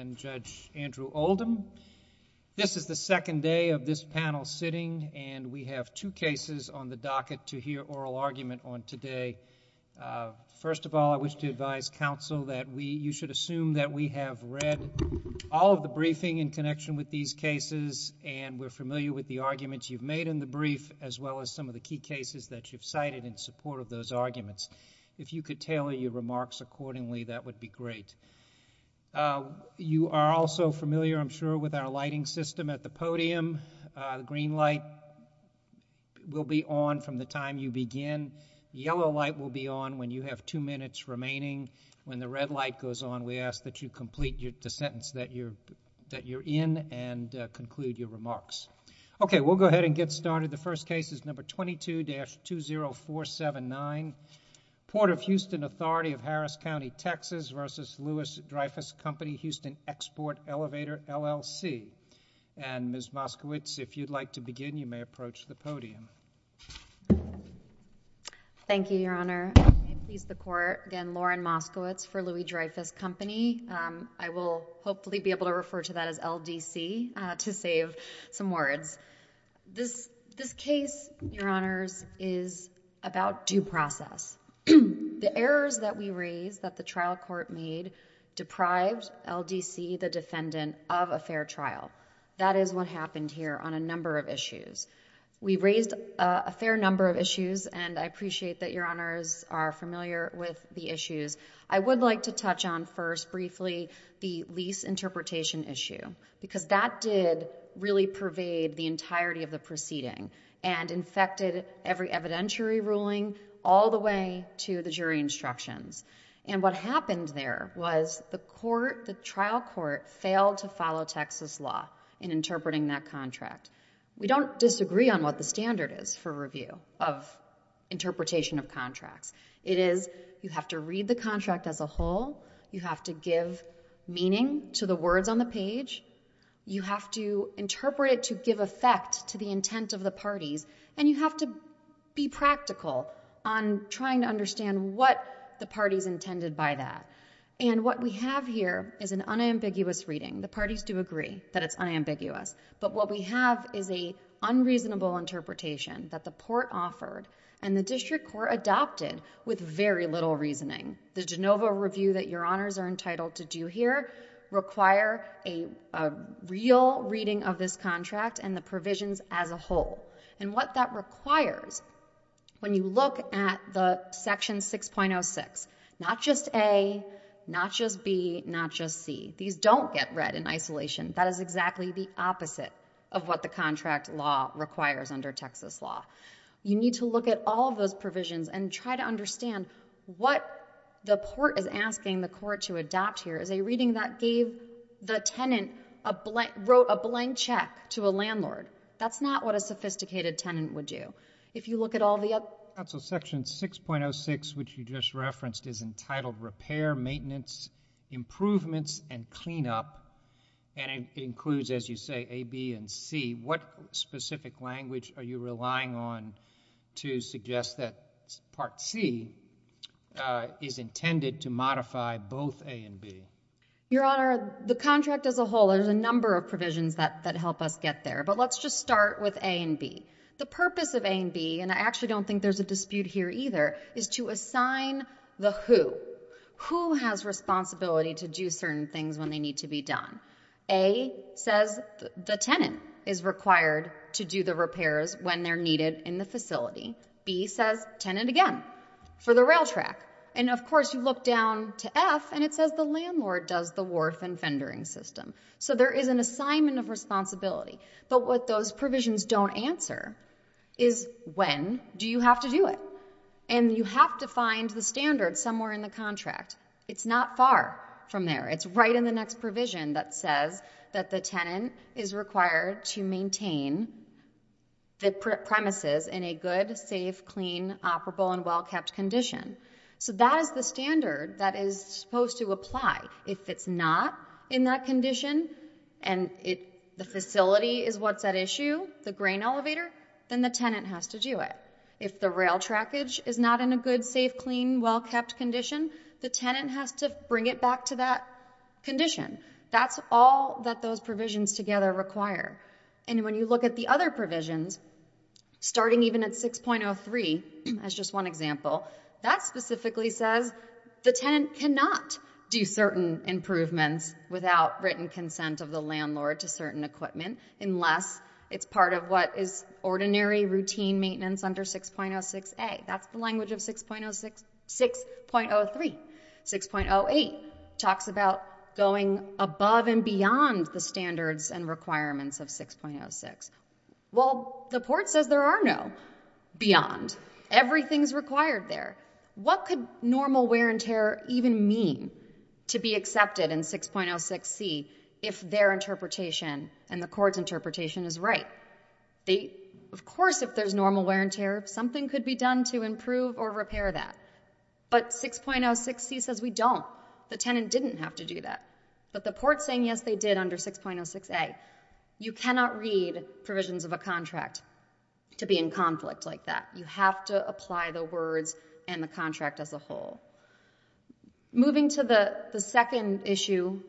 This is the second day of this panel sitting, and we have two cases on the docket to hear oral argument on today. First of all, I wish to advise counsel that you should assume that we have read all of the briefing in connection with these cases, and we're familiar with the arguments you've made in the brief, as well as some of the key cases that you've cited in support of those arguments. If you could tailor your remarks accordingly, that would be great. You are also familiar, I'm sure, with our lighting system at the podium. Green light will be on from the time you begin. Yellow light will be on when you have two minutes remaining. When the red light goes on, we ask that you complete the sentence that you're in and conclude your remarks. Okay, we'll go ahead and get started. The case is Harris County, Texas v. Louis Dreyfus Company, Houston Export Elevator, LLC. Ms. Moskowitz, if you'd like to begin, you may approach the podium. Thank you, Your Honor. I please the Court. Again, Lauren Moskowitz for Louis Dreyfus Company. I will hopefully be able to refer to that as LDC to save some words. This case, Your Honors, is about due process. The errors that we raised that the trial court made deprived LDC, the defendant, of a fair trial. That is what happened here on a number of issues. We raised a fair number of issues, and I appreciate that Your Honors are familiar with the issues. I would like to touch on first briefly the lease interpretation issue, because that did really pervade the entirety of the proceeding and infected every evidentiary ruling all the way to the jury instructions. What happened there was the trial court failed to follow Texas law in interpreting that contract. We don't disagree on what the standard is for review of interpretation of contracts. It is, you have to read the contract as a whole, you have to give meaning to the words on the page, you have to interpret it to give effect to the intent of the parties, and you have to be practical on trying to understand what the parties intended by that. What we have here is an unambiguous reading. The parties do agree that it's unambiguous, but what we have is an unreasonable interpretation that the court offered and the district court adopted with very little reasoning. The Genova review that Your Honors are entitled to do here require a real reading of this contract and the provisions as a whole. And what that requires, when you look at the section 6.06, not just A, not just B, not just C, these don't get read in isolation. That is exactly the opposite of what the contract law requires under Texas law. You need to look at all those provisions and try to understand what the court is asking the court to adopt here is a reading that gave the tenant, wrote a blank check to a landlord. That's not what a sophisticated tenant would do. If you look at all the other... It includes, as you say, A, B, and C. What specific language are you relying on to suggest that part C is intended to modify both A and B? Your Honor, the contract as a whole, there's a number of provisions that help us get there, but let's just start with A and B. The purpose of A and B, and I actually don't think there's a dispute here either, is to assign the who. Who has responsibility to do certain things when they need to be done? A says the tenant is required to do the repairs when they're needed in the facility. B says tenant again for the rail track. And of course, you look down to F, and it says the landlord does the wharf and fendering system. So there is an assignment of responsibility. But what those provisions don't answer is when do you have to do it? And you have to find the It's right in the next provision that says that the tenant is required to maintain the premises in a good, safe, clean, operable, and well-kept condition. So that is the standard that is supposed to apply. If it's not in that condition, and the facility is what's at issue, the grain elevator, then the tenant has to do it. If the rail trackage is not in a good, safe, clean, well-kept condition, the tenant has to bring it back to that condition. That's all that those provisions together require. And when you look at the other provisions, starting even at 6.03, as just one example, that specifically says the tenant cannot do certain improvements without written consent of the landlord to certain equipment unless it's part of what is 6.03. 6.08 talks about going above and beyond the standards and requirements of 6.06. Well, the court says there are no beyond. Everything is required there. What could normal wear and tear even mean to be accepted in 6.06c if their interpretation and the court's interpretation is right? Of course, if there's normal wear and tear, something could be done to improve or repair that. But 6.06c says we don't. The tenant didn't have to do that. But the court's saying yes, they did under 6.06a. You cannot read provisions of a contract to be in conflict like that. You have to apply the words and the contract as a whole. Moving to the second issue,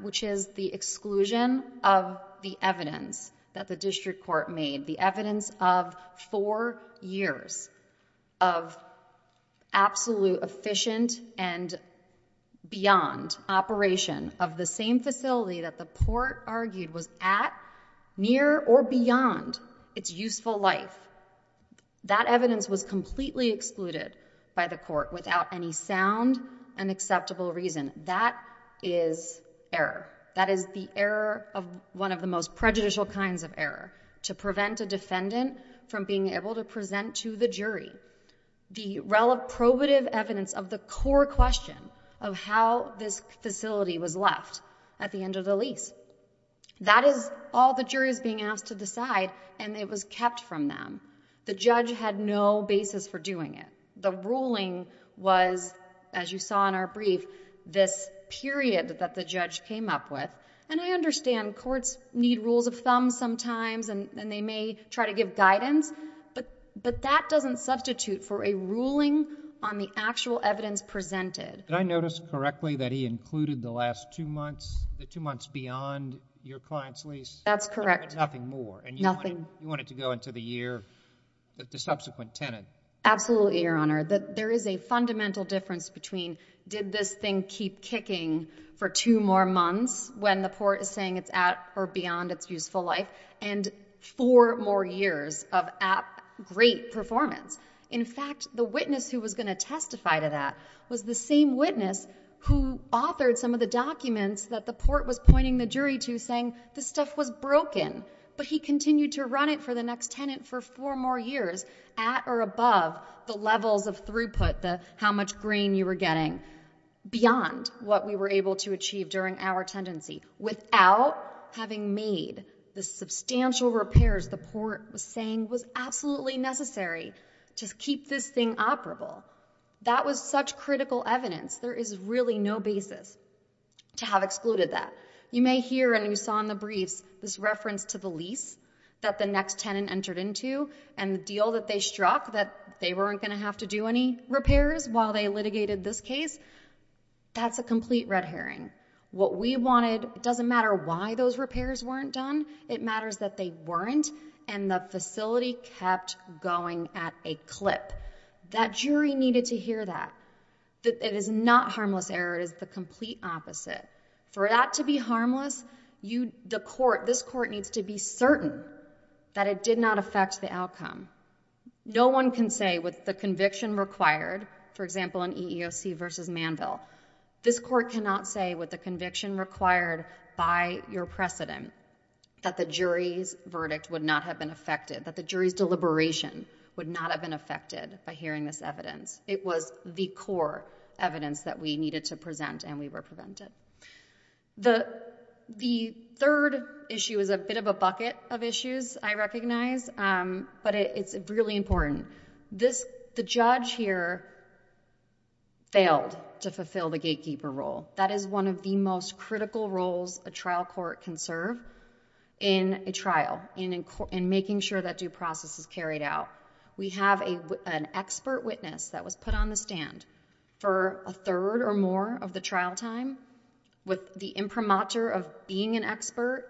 which is the exclusion of the evidence that the absolute efficient and beyond operation of the same facility that the court argued was at, near, or beyond its useful life. That evidence was completely excluded by the court without any sound and acceptable reason. That is error. That is the error of one of the most prejudicial kinds of error, to prevent a defendant from being able to present to the jury the probative evidence of the core question of how this facility was left at the end of the lease. That is all the jury is being asked to decide, and it was kept from them. The judge had no basis for doing it. The ruling was, as you saw in our brief, this period that the judge came up with. And I understand courts need rules of thumb sometimes, and they may try to give guidance. But that doesn't substitute for a ruling on the actual evidence presented. Did I notice correctly that he included the last two months, the two months beyond your client's lease? That's correct. Nothing more. Nothing. And you wanted to go into the year, the subsequent tenant. Absolutely, Your Honor. There is a fundamental difference between did this thing keep kicking for two more months when the court is saying it's at or beyond its useful life, and four more years of at great performance. In fact, the witness who was going to testify to that was the same witness who authored some of the documents that the court was pointing the jury to, saying this stuff was broken. But he continued to run it for the next tenant for four more years at or above the levels of throughput, the how much grain you were getting, beyond what we were able to achieve during our tendency, without having made the substantial repairs the court was saying was absolutely necessary to keep this thing operable. That was such critical evidence. There is really no basis to have excluded that. You may hear, and you saw in the briefs, this reference to the lease that the next tenant entered into and the deal that they struck, that they weren't going to have to do any repairs while they litigated this case. That's a complete red herring. What we wanted, it doesn't matter why those repairs weren't done. It matters that they weren't, and the facility kept going at a clip. That jury needed to hear that. It is not harmless error. It is the complete opposite. For that to be harmless, this court needs to be certain that it did not affect the outcome. No one can say with the conviction required, for example, in EEOC versus Manville, this court cannot say with the conviction required by your precedent that the jury's verdict would not have been affected, that the jury's deliberation would not have been affected by hearing this evidence. It was the core evidence that we needed to present, and we were prevented. The third issue is a bit of a bucket of issues, I recognize, but it's really important. The judge here failed to fulfill the gatekeeper role. That is one of the most critical roles a trial court can serve in a trial, in making sure that due process is carried out. We have an expert witness that was put on the stand for a third or more of the trial time with the imprimatur of being an expert,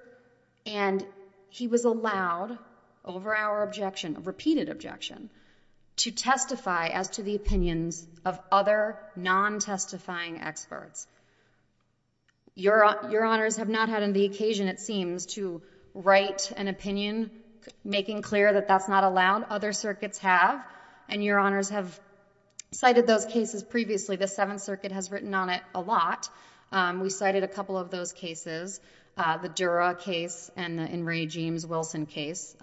and he was allowed, over our objection, a repeated objection, to testify as to the opinions of other non-testifying experts. Your honors have not had the occasion, it seems, to write an opinion making clear that that's not allowed. Other circuits have, and your honors have cited those cases previously. The Seventh Circuit has written on it a lot. We cited a couple of those cases, the Dura case and the In re James Wilson case,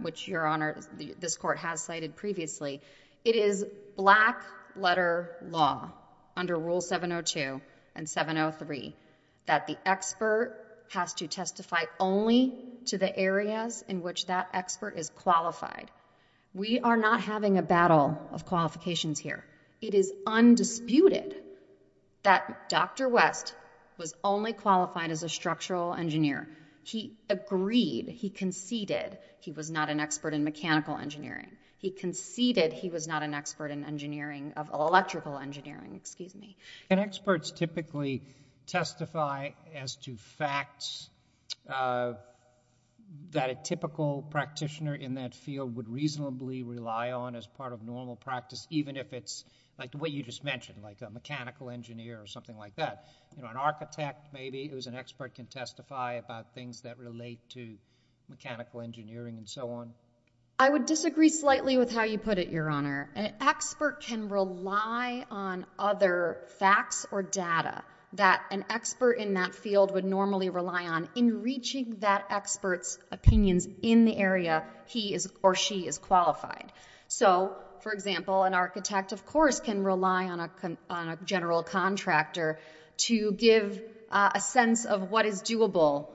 which your honors, this court has cited previously. It is black letter law under Rule 702 and 703 that the expert has to testify only to the areas in which that expert is qualified. We are not having a battle of qualifications here. It is undisputed that Dr. West was only qualified as a structural engineer. He agreed, he conceded he was not an expert in mechanical engineering. He conceded he was not an expert in electrical engineering. And experts typically testify as to facts that a typical practitioner in that field would reasonably rely on as part of normal practice, even if it's like the way you just mentioned, like a mechanical engineer or something like that. An architect maybe who is an expert can testify about things that relate to mechanical engineering and so on. I would disagree slightly with how you put it, your honor. An expert can rely on other facts or data that an expert in that field would normally rely on in reaching that expert's opinions in the area he or she is qualified. So, for example, an architect, of course, can rely on a general contractor to give a sense of what is doable.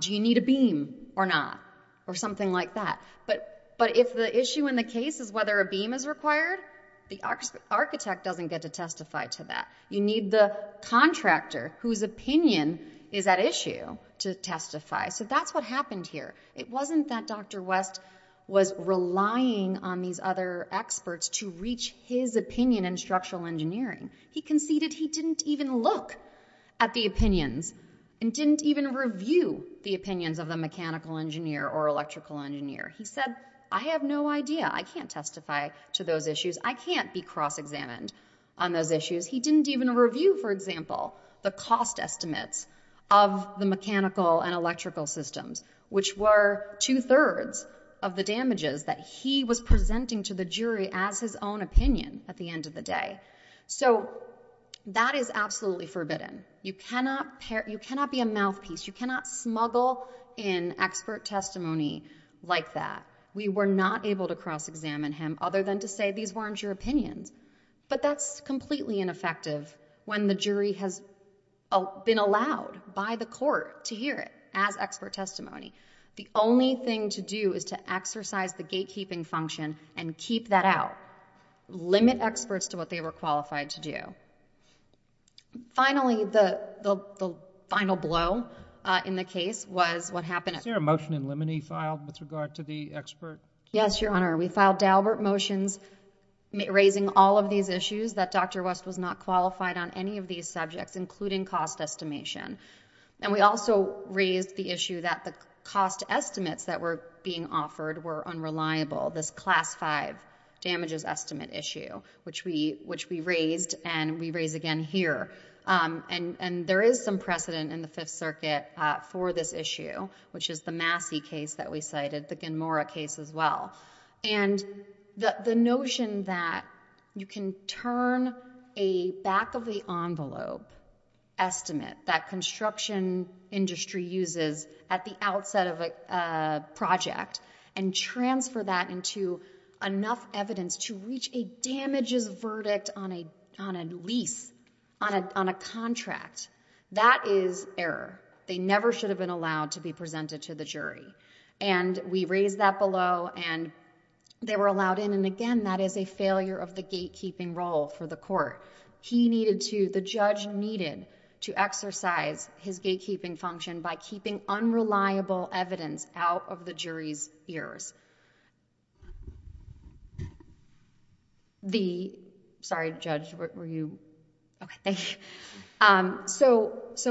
Do you need a beam or not? Or something like that. But if the issue in the case is whether a beam is required, the architect doesn't get to testify to that. You need the contractor whose opinion is at issue to testify. So that's what happened here. It wasn't that Dr. West was relying on these other experts to reach his opinion in structural engineering. He conceded he didn't even look at the opinions and didn't even review the opinions of the mechanical engineer or electrical engineer. He said, I have no idea. I can't testify to those issues. I can't be cross-examined on those issues. He didn't even review, for example, the cost estimates of the mechanical and electrical systems, which were two-thirds of the damages that he was presenting to the jury as his own opinion at the end of the day. That is absolutely forbidden. You cannot be a mouthpiece. You cannot smuggle in and challenge your opinions. But that's completely ineffective when the jury has been allowed by the court to hear it as expert testimony. The only thing to do is to exercise the gatekeeping function and keep that out. Limit experts to what they were qualified to do. Finally, the final blow in the case was what happened... Is there a motion in limine filed with regard to the expert? Yes, Your Honor. We filed Daubert motions raising all of these issues that Dr. West was not qualified on any of these subjects, including cost estimation. We also raised the issue that the cost estimates that were being offered were unreliable, this Class V damages estimate issue, which we raised and we raise again here. There is some precedent in the Fifth Circuit for this issue, which is the Massey case that we cited, the Gamora case as well. The notion that you can turn a back-of-the-envelope estimate that construction industry uses at the outset of a project and transfer that into enough evidence to reach a damages verdict on a lease, on a contract, that is error. They never should have been allowed to be presented to the jury. We raised that below and they were allowed in. Again, that is a failure of the gatekeeping role for the court. The judge needed to exercise his gatekeeping function by keeping unreliable evidence out of the jury's ears. So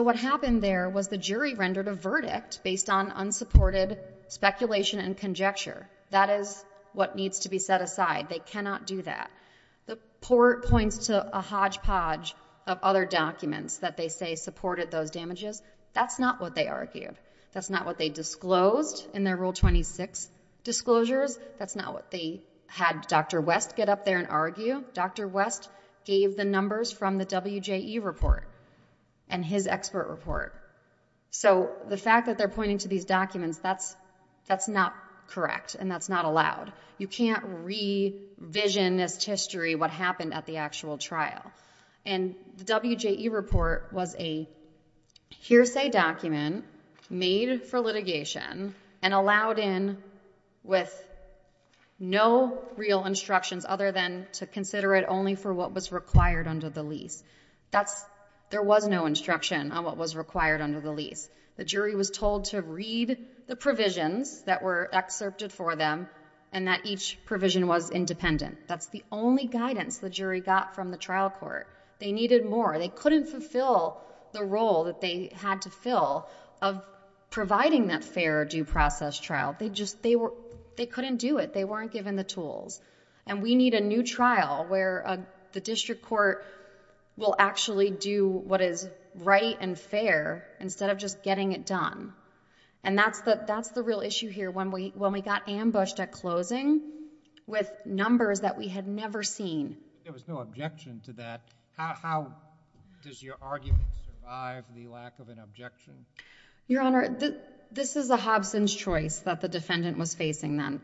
what happened there was the jury rendered a verdict based on unsupported speculation and conjecture. That is what needs to be set aside. They cannot do that. The court points to a hodgepodge of other documents that they say supported those damages. That's not what they argued. That's not what they disclosed in their Rule 26 disclosures. That's not what they had Dr. West get up there and argue. Dr. West gave the numbers from the WJE report and his expert report. The fact that they're pointing to these documents, that's not correct and that's not allowed. You can't revisionist history what happened at the actual trial. The WJE report was a hearsay document made for litigation and allowed in with no real instructions other than to consider it only for what was required under the lease. There was no instruction on what was required under the lease. The jury was told to read the provisions that were excerpted for them and that each provision was independent. That's the only guidance the jury got from the trial court. They needed more. They couldn't fulfill the role that they had to fill of providing that fair due process trial. They couldn't do it. They weren't given the tools. We need a new trial where the real issue here when we got ambushed at closing with numbers that we had never seen. There was no objection to that. How does your argument survive the lack of an objection? Your Honor, this is a Hobson's choice that the defendant was facing then.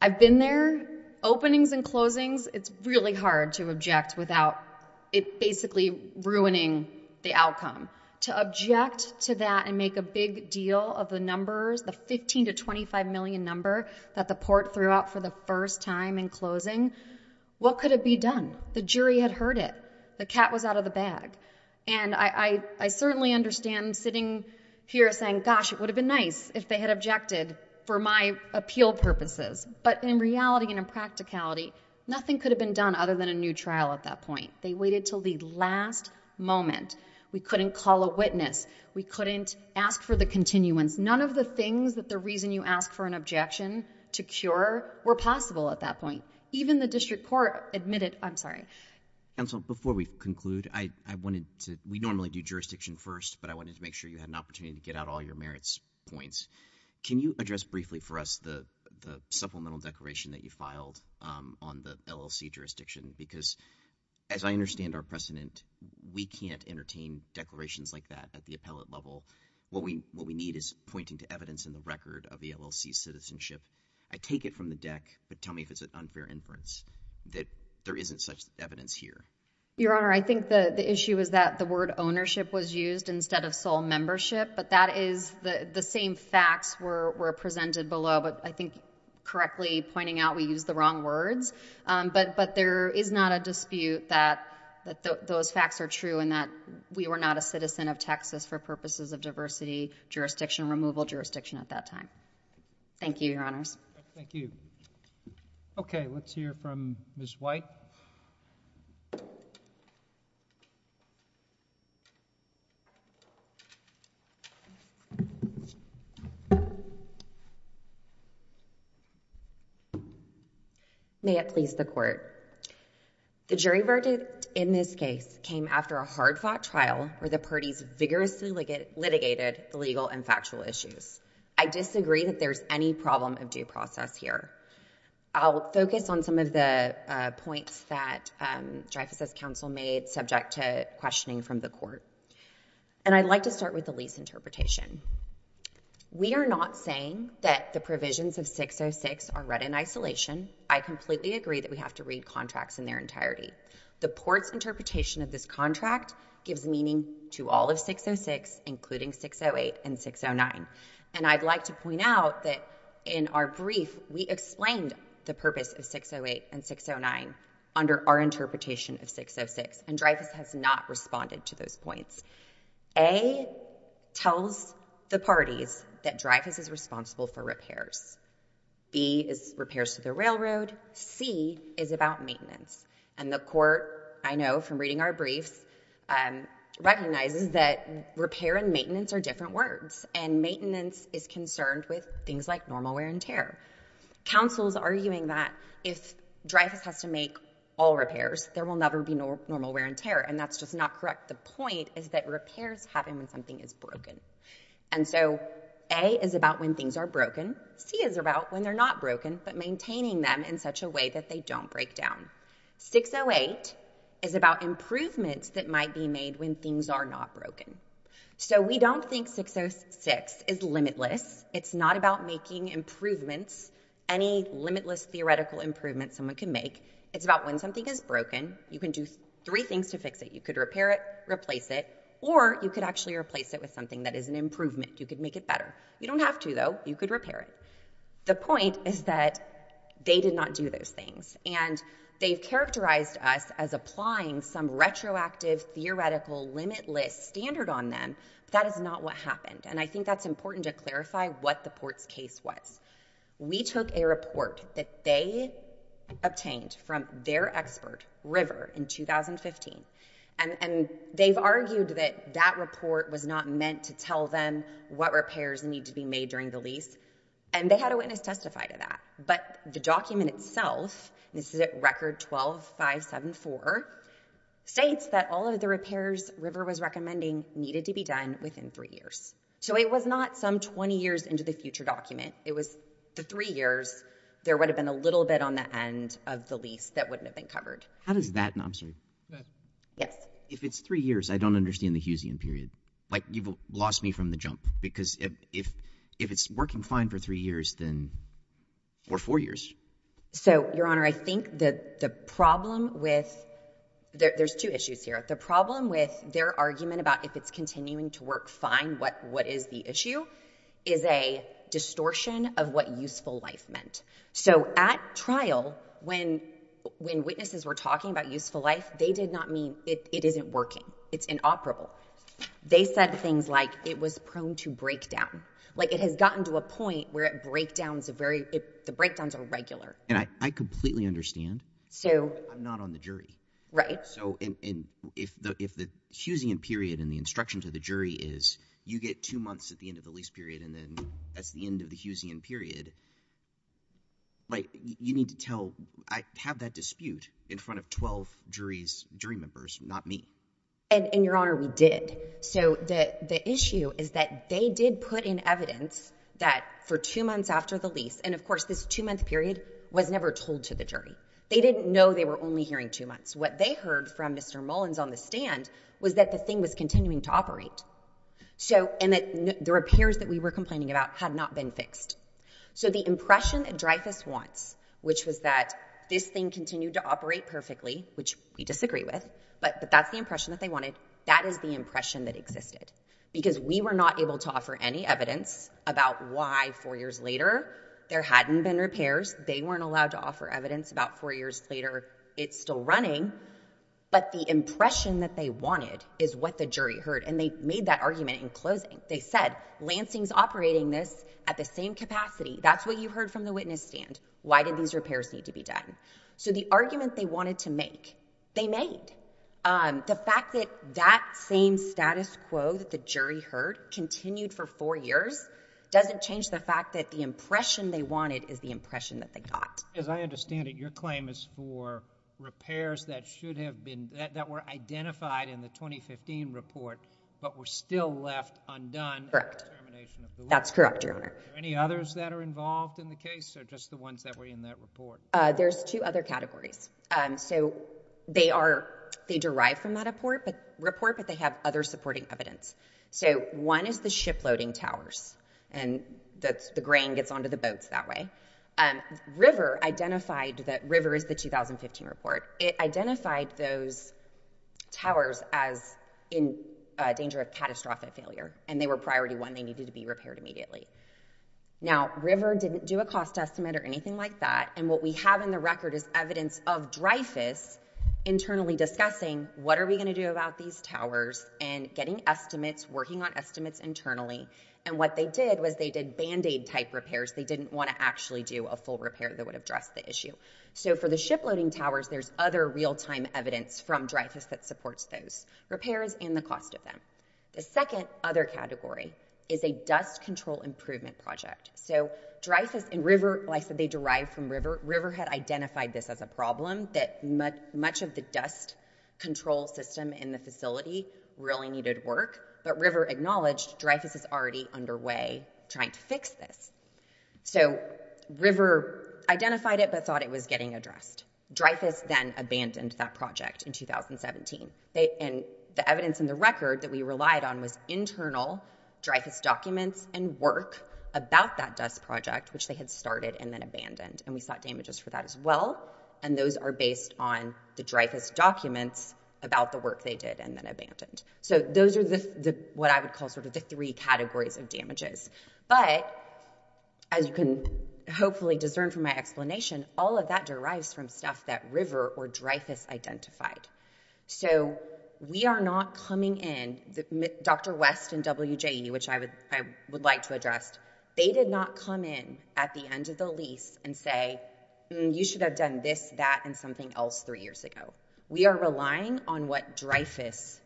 I've been there. Openings and closings, it's really hard to object without basically ruining the outcome. To object to that and make a big deal of the numbers, the 15 to 25 million number that the court threw out for the first time in closing, what could have been done? The jury had heard it. The cat was out of the bag. I certainly understand sitting here saying, gosh, it would have been nice if they had objected for my appeal purposes, but in reality and in practicality, nothing could have been done other than a new trial at that point. They waited until the last moment. We couldn't call a witness. We couldn't ask for the continuance. None of the things that the reason you ask for an objection to cure were possible at that point. Even the district court admitted... I'm sorry. Counsel, before we conclude, I wanted to... we normally do the supplemental declaration that you filed on the LLC jurisdiction because, as I understand our precedent, we can't entertain declarations like that at the appellate level. What we need is pointing to evidence in the record of the LLC's citizenship. I take it from the deck, but tell me if it's an unfair inference that there isn't such evidence here. Your Honor, I think the issue is that the word ownership was used instead of sole membership, but that is... the same facts were presented below, but I think correctly pointing out we used the wrong words, but there is not a dispute that those facts are true and that we were not a citizen of Texas for purposes of diversity, jurisdiction, removal jurisdiction at that time. Thank you, Your Honors. Thank you. Okay. Let's hear from Ms. White. May it please the Court. The jury verdict in this case came after a hard-fought trial where the parties vigorously litigated the legal and factual issues. I disagree that there is any problem of due process here. I'll focus on some of the points that Dreyfus' counsel made subject to questioning from the Court, and I'd like to start with the lease interpretation. We are not saying that the provisions of 606 are read in isolation. I completely agree that we have to read contracts in their entirety. The Port's interpretation of this contract gives meaning to all of 606, including 608 and 609, and I'd like to point out that in our brief, we explained the purpose of 608 and 609 under our interpretation of 606, and Dreyfus has not responded to those points. A tells the parties that Dreyfus is responsible for repairs. B is repairs to the railroad. C is about maintenance, and the Court, I know from reading our briefs, recognizes that repair and maintenance are different words, and maintenance is concerned with things like normal wear and tear. Counsel is arguing that if Dreyfus has to make all repairs, there will never be normal wear and tear, and that's just not correct. The point is that repairs happen when something is broken. And so A is about when things are broken. C is about when they're not broken, but maintaining them in such a way that they don't break down. 608 is about improvements that might be made when things are not broken. So we don't think 606 is limitless. It's not about making improvements, any limitless theoretical improvements someone can make. It's about when something is an improvement. You could make it better. You don't have to, though. You could repair it. The point is that they did not do those things, and they've characterized us as applying some retroactive theoretical limitless standard on them, but that is not what happened, and I think that's important to clarify what the Port's case was. We took a report that they obtained from their expert River in 2015, and they've argued that that report was not meant to tell them what repairs need to be made during the lease, and they had a witness testify to that, but the document itself, and this is at record 12574, states that all of the repairs River was recommending needed to be done within three years. So it was not some 20 years into the future document. It was the three years there would have been a little bit on the end of the lease that wouldn't have been covered. How does that, I'm sorry. Yes. If it's three years, I don't understand the Hughesian period. Like, you've lost me from the jump, because if it's working fine for three years, then, or four years. So, Your Honor, I think that the problem with, there's two issues here. The problem with their argument about if it's continuing to work fine, what is the issue, is a distortion of what useful life meant. So at trial, when witnesses were talking about useful life, they did not mean it isn't working. It's inoperable. They said things like, it was prone to breakdown. Like, it has gotten to a point where the breakdowns are regular. And I completely understand, but I'm not on the jury. Right. If the Hughesian period and the instruction to the jury is, you get two months at the end of the lease period and then that's the end of the Hughesian period, you need to tell, I have that dispute in front of 12 jury members, not me. And Your Honor, we did. So the issue is that they did put in evidence that for two months after the lease, and of course this two month period was never told to the jury. They didn't know they were only hearing two months. What they heard from Mr. Mullins on the stand was that the thing was continuing to operate. So, and that the repairs that we were complaining about had not been fixed. So the impression that Dreyfus wants, which was that this thing continued to operate perfectly, which we disagree with, but that's the impression that they wanted. That is the impression that existed. Because we were not able to offer any evidence about why four years later there hadn't been repairs. They weren't allowed to offer evidence about four years later it's still running. But the impression that they wanted is what the jury heard. And they made that argument in closing. They said, Lansing's operating this at the same rate that we think. They made. The fact that that same status quo that the jury heard continued for four years doesn't change the fact that the impression they wanted is the impression that they got. As I understand it, your claim is for repairs that should have been, that were identified in the 2015 report, but were still left undone. Correct. That's correct, Your Honor. Are there any others that are involved in the case or just the ones that were in that report? There's two other categories. So they are, they derive from that report, but they have other supporting evidence. So one is the shiploading towers and that's the grain gets onto the boats that way. River identified that, River is the 2015 report. It identified those as a danger of catastrophic failure and they were priority one. They needed to be repaired immediately. Now, River didn't do a cost estimate or anything like that. And what we have in the record is evidence of Dreyfus internally discussing what are we going to do about these towers and getting estimates, working on estimates internally. And what they did was they did Band-Aid type repairs. They didn't want to actually do a full repair that would address the issue. So for the shiploading towers, there's other real-time evidence from Dreyfus that supports those repairs and the cost of them. The second other category is a dust control improvement project. So Dreyfus and River, like I said, they derive from River. River had identified this as a problem that much of the dust control system in the facility really needed work, but River acknowledged Dreyfus is already underway trying to fix this. So River identified it but thought it was getting addressed. Dreyfus then abandoned that project in 2017. And the evidence in the record that we relied on was internal Dreyfus documents and work about that dust project, which they had started and then abandoned. And we sought damages for that as well. And those are based on the Dreyfus documents about the work they did and then abandoned. So those are what I would call sort of the three categories of damages. But as you can hopefully discern from my explanation, all of that derives from stuff that River or Dreyfus identified. So we are not coming in, Dr. West and WJE, which I would like to address, they did not come in at the end of the lease and say, you should have done this, that, and something else three years ago. We are relying on what Dreyfus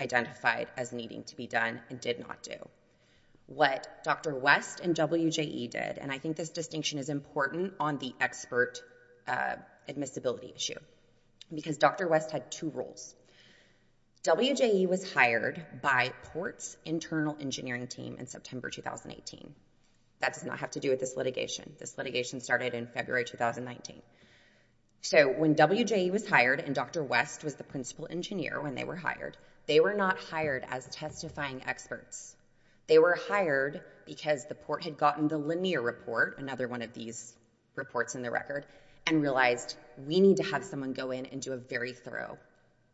identified as needing to be done and did not do. What Dr. West and WJE did, and I think this distinction is important on the expert admissibility issue, because Dr. West had two roles. WJE was hired by Port's internal engineering team in September 2018. That does not have to do with this litigation. This litigation started in February 2019. So when WJE was hired and Dr. West was the principal engineer when they were hired, they were not hired as testifying experts. They were hired because the Port had gotten the linear report, another one of these reports in the record, and realized we need to have someone go in and do a very thorough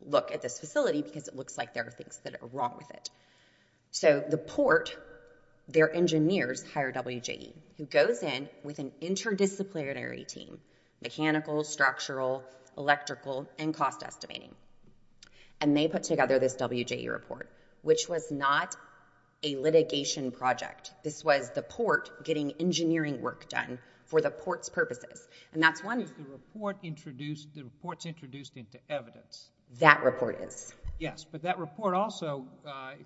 look at this facility because it looks like there are things that are wrong with it. So the Port, their engineers hire WJE, who goes in with an interdisciplinary team, mechanical, structural, electrical, and cost estimating. And they put together this WJE report, which was not a litigation project. This was the Port getting engineering work done for the Port's purposes. And that's one... The report's introduced into evidence. That report is. Yes, but that report also,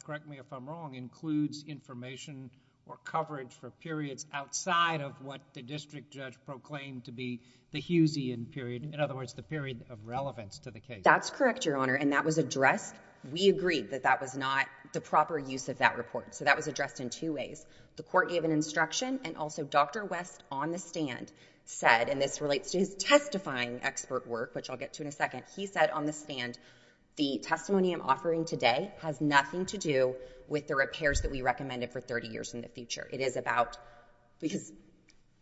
correct me if I'm wrong, includes information or coverage for periods outside of what the district judge proclaimed to be the Hughesian period. In other words, the period of relevance to the case. That's correct, Your Honor, and that was addressed. We agreed that that was not the proper use of that report. So that was addressed in two ways. The Court gave an instruction and also Dr. West on the stand said, and this relates to his testifying expert work, which I'll get to in a second. He said on the stand, the testimony I'm offering today has nothing to do with the repairs that we recommended for 30 years in the future. It is about... because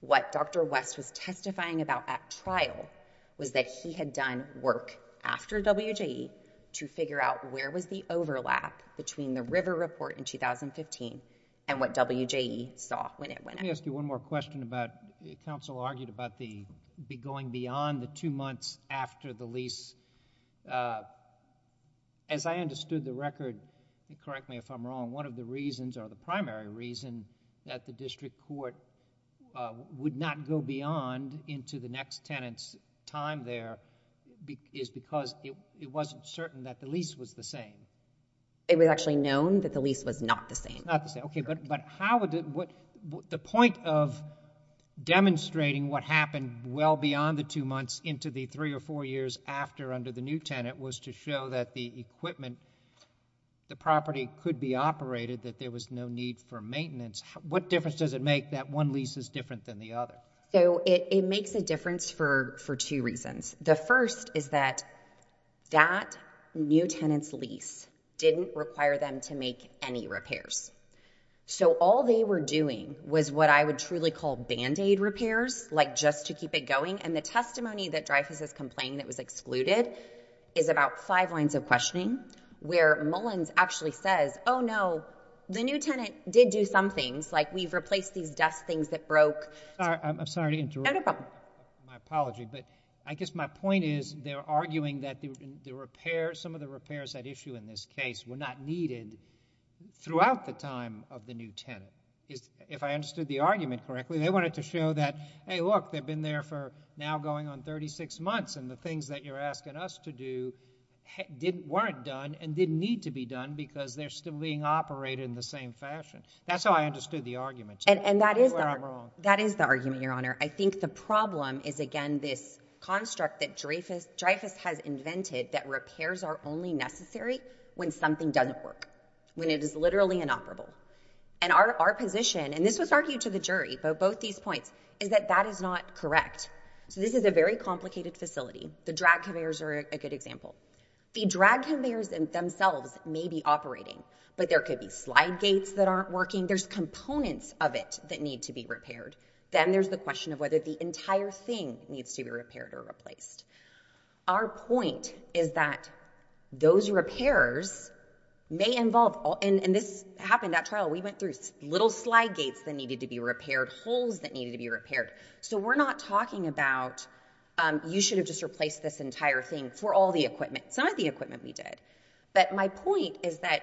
what Dr. West was testifying about at trial was that he had done work after WJE to figure out where was the overlap between the River report in 2015 and what WJE saw when it went out. Let me ask you one more question about... counsel argued about the going beyond the two months after the lease. As I understood the record, correct me if I'm wrong, one of the reasons or the primary reason that the district court would not go beyond into the next tenant's time there is because it wasn't certain that the lease was the same. It was actually known that the lease was not the same. The point of demonstrating what happened well beyond the two months into the three or four years after under the new tenant was to show that the equipment, the property could be used for maintenance. What difference does it make that one lease is different than the other? It makes a difference for two reasons. The first is that that new tenant's lease didn't require them to make any repairs. All they were doing was what I would truly call band-aid repairs, like just to keep it going. The testimony that Dreyfus is complaining that was excluded is about five lines of questioning where Mullins actually says, oh no, the new tenant did do some things like we've replaced these dust things that broke...... I'm sorry to interrupt. No problem. My apology, but I guess my point is they're arguing that the repair, some of the repairs at issue in this case were not needed throughout the time of the new tenant. If I understood the argument correctly, they wanted to show that, hey look, they've been there for now going on because they're still being operated in the same fashion. That's how I understood the argument. That is the argument, Your Honor. I think the problem is again this construct that Dreyfus has invented that repairs are only necessary when something doesn't work, when it is literally inoperable. Our position, and this was argued to the jury, but both these points, is that that is not correct. This is a very complicated facility. The drag conveyors are a good example. The drag conveyors themselves may be operating, but there could be slide gates that aren't working. There's components of it that need to be repaired. Then there's the question of whether the entire thing needs to be repaired or replaced. Our point is that those repairs may involve... and this happened at trial. We went through little slide gates that needed to be repaired, holes that needed to be repaired. We're not talking about you should have just replaced this entire thing for all the equipment. Some of the equipment we did. My point is that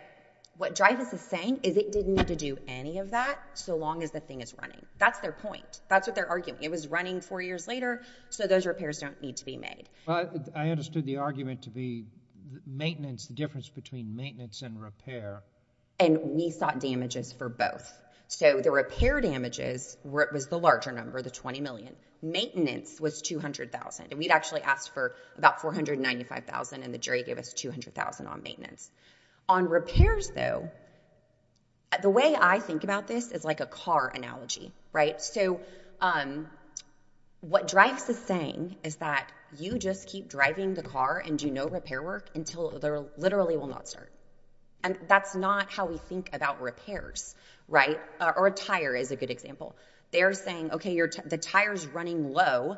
what Dreyfus is saying is it didn't need to do any of that so long as the thing is running. That's their point. That's what they're arguing. It was running four years later, so those repairs don't need to be made. I understood the argument to be the difference between maintenance and repair. We sought damages for both. The repair damages was the larger number, the $20 million. Maintenance was $200,000. We'd actually asked for about $495,000, and the jury gave us $200,000 on maintenance. On repairs, though, the way I think about this is like a car analogy. What Dreyfus is saying is that you just keep driving the car and do no repair work until it literally will not start. That's not how we think about repairs. A tire is a good example. They're saying the tire is running low.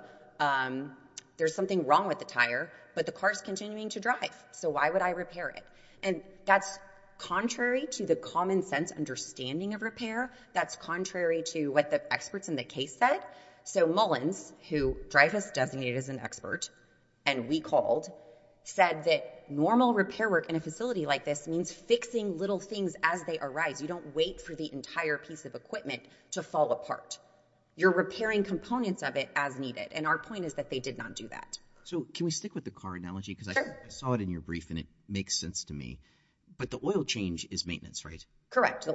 There's something wrong with the tire, but the car is continuing to drive, so why would I repair it? That's contrary to the common sense understanding of repair. That's contrary to what the experts in the case said. Mullins, who Dreyfus designated as an expert and we called, said that normal repair work in a facility like this means fixing little things as they arise. You don't wait for the entire piece of equipment to fall apart. You're repairing components of it as needed, and our point is that they did not do that. Can we stick with the car analogy? I saw it in your brief, and it makes sense to me, but the oil change is maintenance, right? Correct.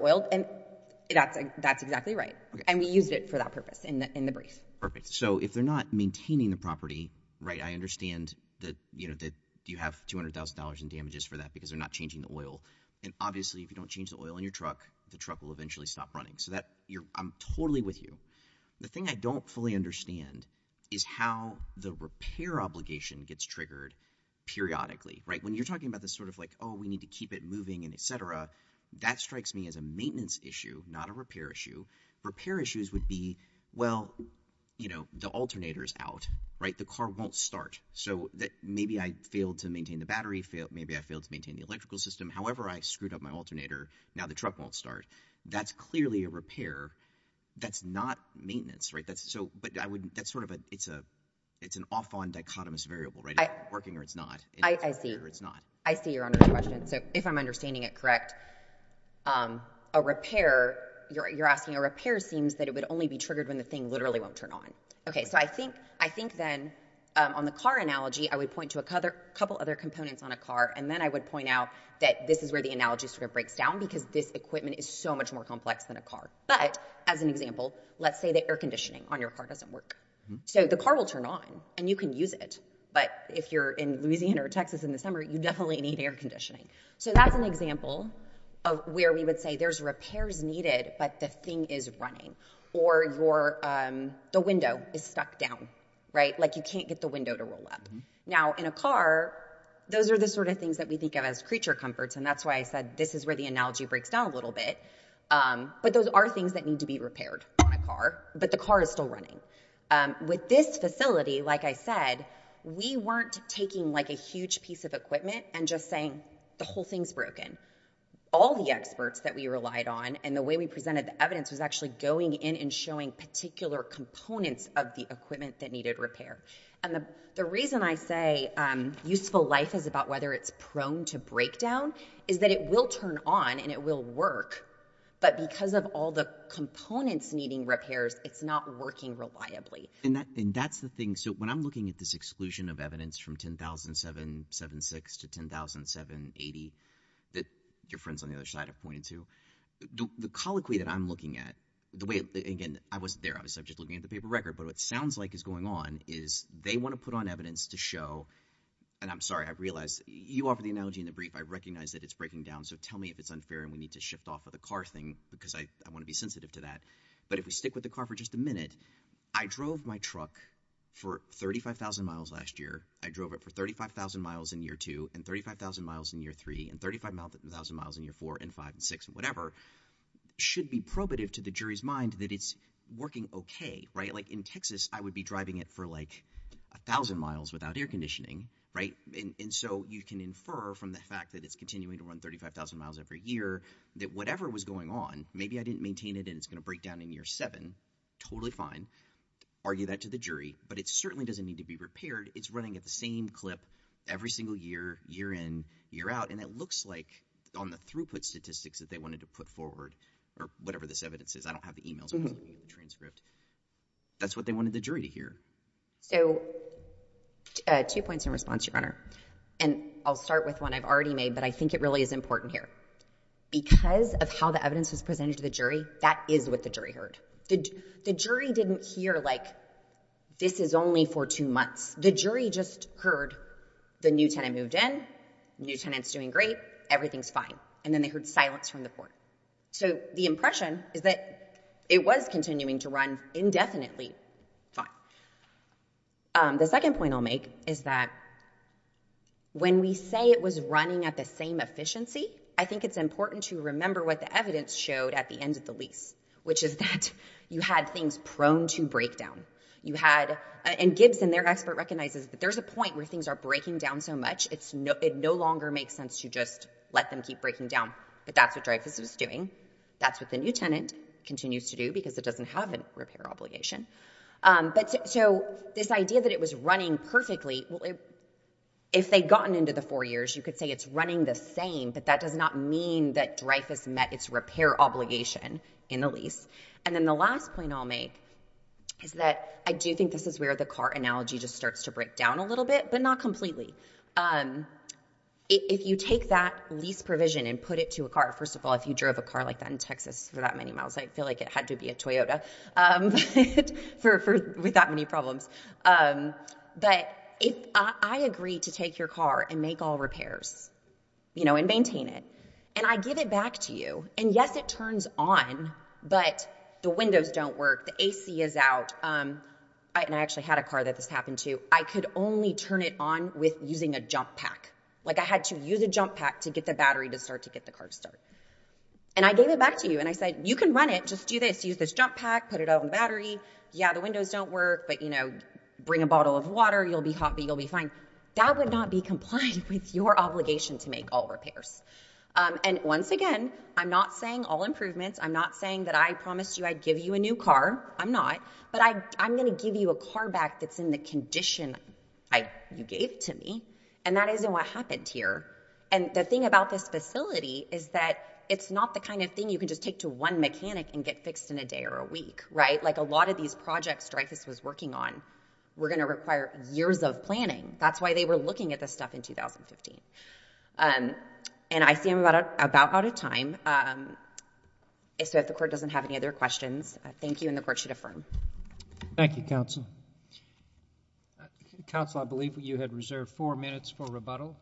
That's exactly right, and we used it for that purpose in the brief. Perfect. So if they're not maintaining the property, I understand that you have $200,000 in damages for that because they're not changing the oil. And obviously, if you don't change the oil in your truck, the truck will eventually stop running, so I'm totally with you. The thing I don't fully understand is how the repair obligation gets triggered periodically. When you're talking about this sort of like, oh, we need to keep it moving and et cetera, that strikes me as a maintenance issue, not a repair issue. Repair issues would be, well, the alternator is out. The car won't start, so maybe I failed to maintain the battery. Maybe I failed to maintain the electrical system. However, I screwed up my alternator. Now, the truck won't start. That's clearly a repair. That's not maintenance. But that's sort of a – it's an off-on dichotomous variable, right? It's working or it's not. I see. I see your understanding. So if I'm understanding it correct, a repair – you're asking a repair seems that it would only be triggered when the thing literally won't turn on. Okay, so I think then on the car analogy, I would point to a couple other components on a car, and then I would point out that this is where the analogy sort of breaks down because this equipment is so much more complex than a car. But as an example, let's say that air conditioning on your car doesn't work. So the car will turn on, and you can use it. But if you're in Louisiana or Texas in the summer, you definitely need air conditioning. So that's an example of where we would say there's repairs needed, but the thing is running. Or the window is stuck down, right? Like you can't get the window to roll up. Now, in a car, those are the sort of things that we think of as creature comforts, and that's why I said this is where the analogy breaks down a little bit. But those are things that need to be repaired on a car, but the car is still running. With this facility, like I said, we weren't taking, like, a huge piece of equipment and just saying the whole thing's broken. All the experts that we relied on and the way we presented the evidence was actually going in and showing particular components of the equipment that needed repair. And the reason I say useful life is about whether it's prone to breakdown is that it will turn on and it will work, but because of all the components needing repairs, it's not working reliably. And that's the thing. So when I'm looking at this exclusion of evidence from 10,776 to 10,780 that your friends on the other side have pointed to, the colloquy that I'm looking at, the way – again, I wasn't there. I was just looking at the paper record, but what sounds like is going on is they want to put on evidence to show – and I'm sorry. I realize you offered the analogy in the brief. I recognize that it's breaking down, so tell me if it's unfair and we need to shift off of the car thing because I want to be sensitive to that. But if we stick with the car for just a minute, I drove my truck for 35,000 miles last year. I drove it for 35,000 miles in year two and 35,000 miles in year three and 35,000 miles in year four and five and six and whatever. It should be probative to the jury's mind that it's working okay. In Texas, I would be driving it for 1,000 miles without air conditioning, right? And so you can infer from the fact that it's continuing to run 35,000 miles every year that whatever was going on, maybe I didn't maintain it and it's going to break down in year seven. Totally fine. Argue that to the jury, but it certainly doesn't need to be repaired. It's running at the same clip every single year, year in, year out, and it looks like on the throughput statistics that they wanted to put forward or whatever this evidence is. I don't have the email transcript. That's what they wanted the jury to hear. So two points in response, Your Honor, and I'll start with one I've already made, but I think it really is important here. Because of how the evidence was presented to the jury, that is what the jury heard. The jury didn't hear like this is only for two months. The jury just heard the new tenant moved in, new tenant's doing great, everything's fine. And then they heard silence from the court. So the impression is that it was continuing to run indefinitely. Fine. The second point I'll make is that when we say it was running at the same efficiency, I think it's important to remember what the evidence showed at the end of the lease, which is that you had things prone to breakdown. And Gibson, their expert, recognizes that there's a point where things are breaking down so much it no longer makes sense to just let them keep breaking down. But that's what Dreyfus was doing. That's what the new tenant continues to do because it doesn't have a repair obligation. So this idea that it was running perfectly, if they'd gotten into the four years, you could say it's running the same, but that does not mean that Dreyfus met its repair obligation in the lease. And then the last point I'll make is that I do think this is where the car analogy just starts to break down a little bit, but not completely. If you take that lease provision and put it to a car, first of all, if you drove a car like that in Texas for that many miles, I feel like it had to be a Toyota with that many problems. But if I agree to take your car and make all repairs and maintain it, and I give it back to you, and yes, it turns on. But the windows don't work. The AC is out. And I actually had a car that this happened to. I could only turn it on with using a jump pack. Like, I had to use a jump pack to get the battery to start to get the car to start. And I gave it back to you, and I said, you can run it. Just do this. Use this jump pack. Put it out on the battery. Yeah, the windows don't work, but, you know, bring a bottle of water. You'll be happy. You'll be fine. That would not be compliant with your obligation to make all repairs. And once again, I'm not saying all improvements. I'm not saying that I promised you I'd give you a new car. I'm not. But I'm going to give you a car back that's in the condition you gave to me, and that isn't what happened here. And the thing about this facility is that it's not the kind of thing you can just take to one mechanic and get fixed in a day or a week, right? Like, a lot of these projects Dreyfus was working on were going to require years of planning. That's why they were looking at this stuff in 2015. And I see I'm about out of time. So if the court doesn't have any other questions, thank you, and the court should affirm. Thank you, counsel. Counsel, I believe you had reserved four minutes for rebuttal.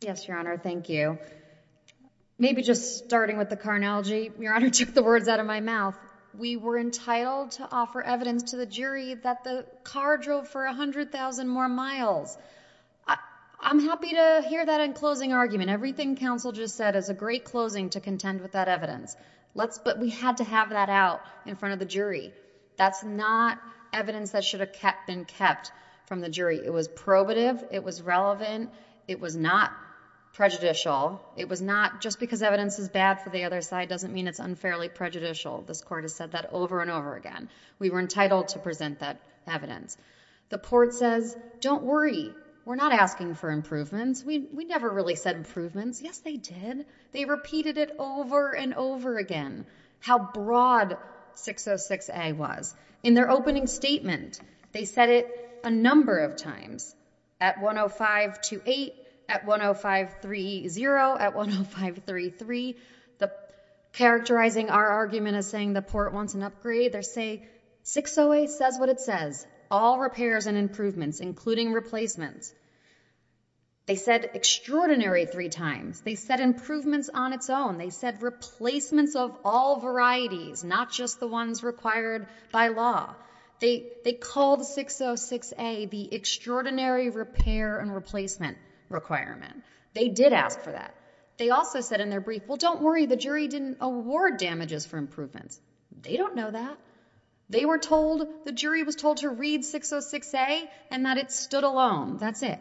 Yes, Your Honor. Thank you. Maybe just starting with the car analogy, Your Honor took the words out of my mouth. We were entitled to offer evidence to the jury that the car drove for 100,000 more miles. I'm happy to hear that in closing argument. Everything counsel just said is a great closing to contend with that evidence. But we had to have that out in front of the jury. That's not evidence that should have been kept from the jury. It was probative. It was relevant. It was not prejudicial. It was not just because evidence is bad for the other side doesn't mean it's unfairly prejudicial. This court has said that over and over again. We were entitled to present that evidence. The court says, don't worry. We're not asking for improvements. We never really said improvements. Yes, they did. They repeated it over and over again, how broad 606A was. In their opening statement, they said it a number of times. At 105.28, at 105.30, at 105.33. Characterizing our argument as saying the court wants an upgrade, they say 608 says what it says. All repairs and improvements, including replacements. They said extraordinary three times. They said improvements on its own. They said replacements of all varieties, not just the ones required by law. They called 606A the extraordinary repair and replacement requirement. They did ask for that. They also said in their brief, well, don't worry. The jury didn't award damages for improvements. They don't know that. They were told, the jury was told to read 606A and that it stood alone. That's it.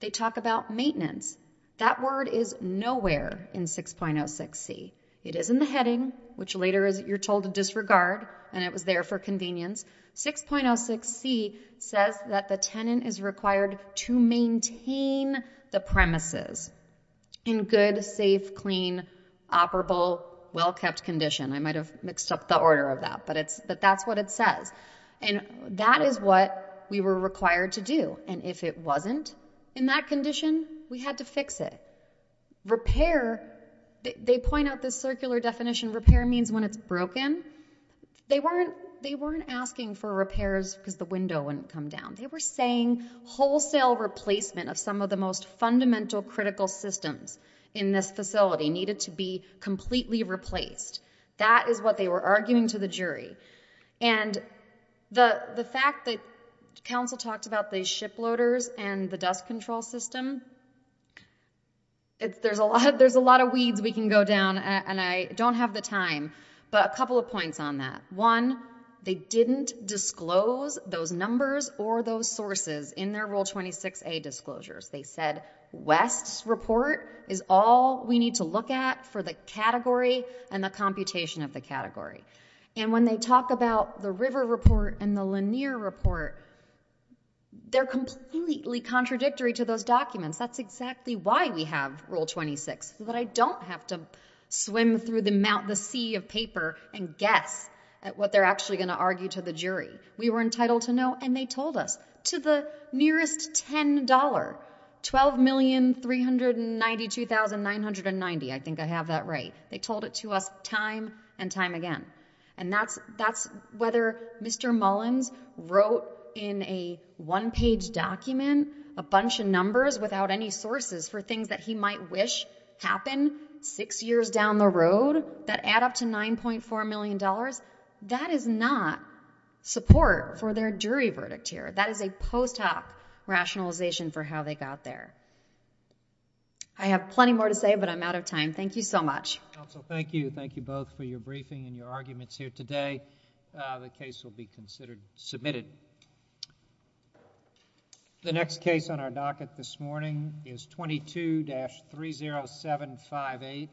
They talk about maintenance. That word is nowhere in 6.06C. It is in the heading, which later you're told to disregard. And it was there for convenience. 6.06C says that the tenant is required to maintain the premises in good, safe, clean, operable, well-kept condition. I might have mixed up the order of that, but that's what it says. And that is what we were required to do. And if it wasn't in that condition, we had to fix it. Repair, they point out this circular definition. Repair means when it's broken. They weren't asking for repairs because the window wouldn't come down. They were saying wholesale replacement of some of the most fundamental, critical systems in this facility needed to be completely replaced. And the fact that counsel talked about these shiploaders and the dust control system, there's a lot of weeds we can go down. And I don't have the time. But a couple of points on that. One, they didn't disclose those numbers or those sources in their Rule 26A disclosures. They said West's report is all we need to look at for the category and the computation of the category. And when they talk about the River report and the Lanier report, they're completely contradictory to those documents. That's exactly why we have Rule 26, so that I don't have to swim through the sea of paper and guess at what they're actually going to argue to the jury. We were entitled to know, and they told us, to the nearest $10, $12,392,990. I think I have that right. They told it to us time and time again. And that's whether Mr. Mullins wrote in a one-page document a bunch of numbers without any sources for things that he might wish happened six years down the road that add up to $9.4 million. That is not support for their jury verdict here. That is a post hoc rationalization for how they got there. I have plenty more to say, but I'm out of time. Thank you so much. Counsel, thank you. Thank you both for your briefing and your arguments here today. The case will be considered submitted. The next case on our docket this morning is 22-30758.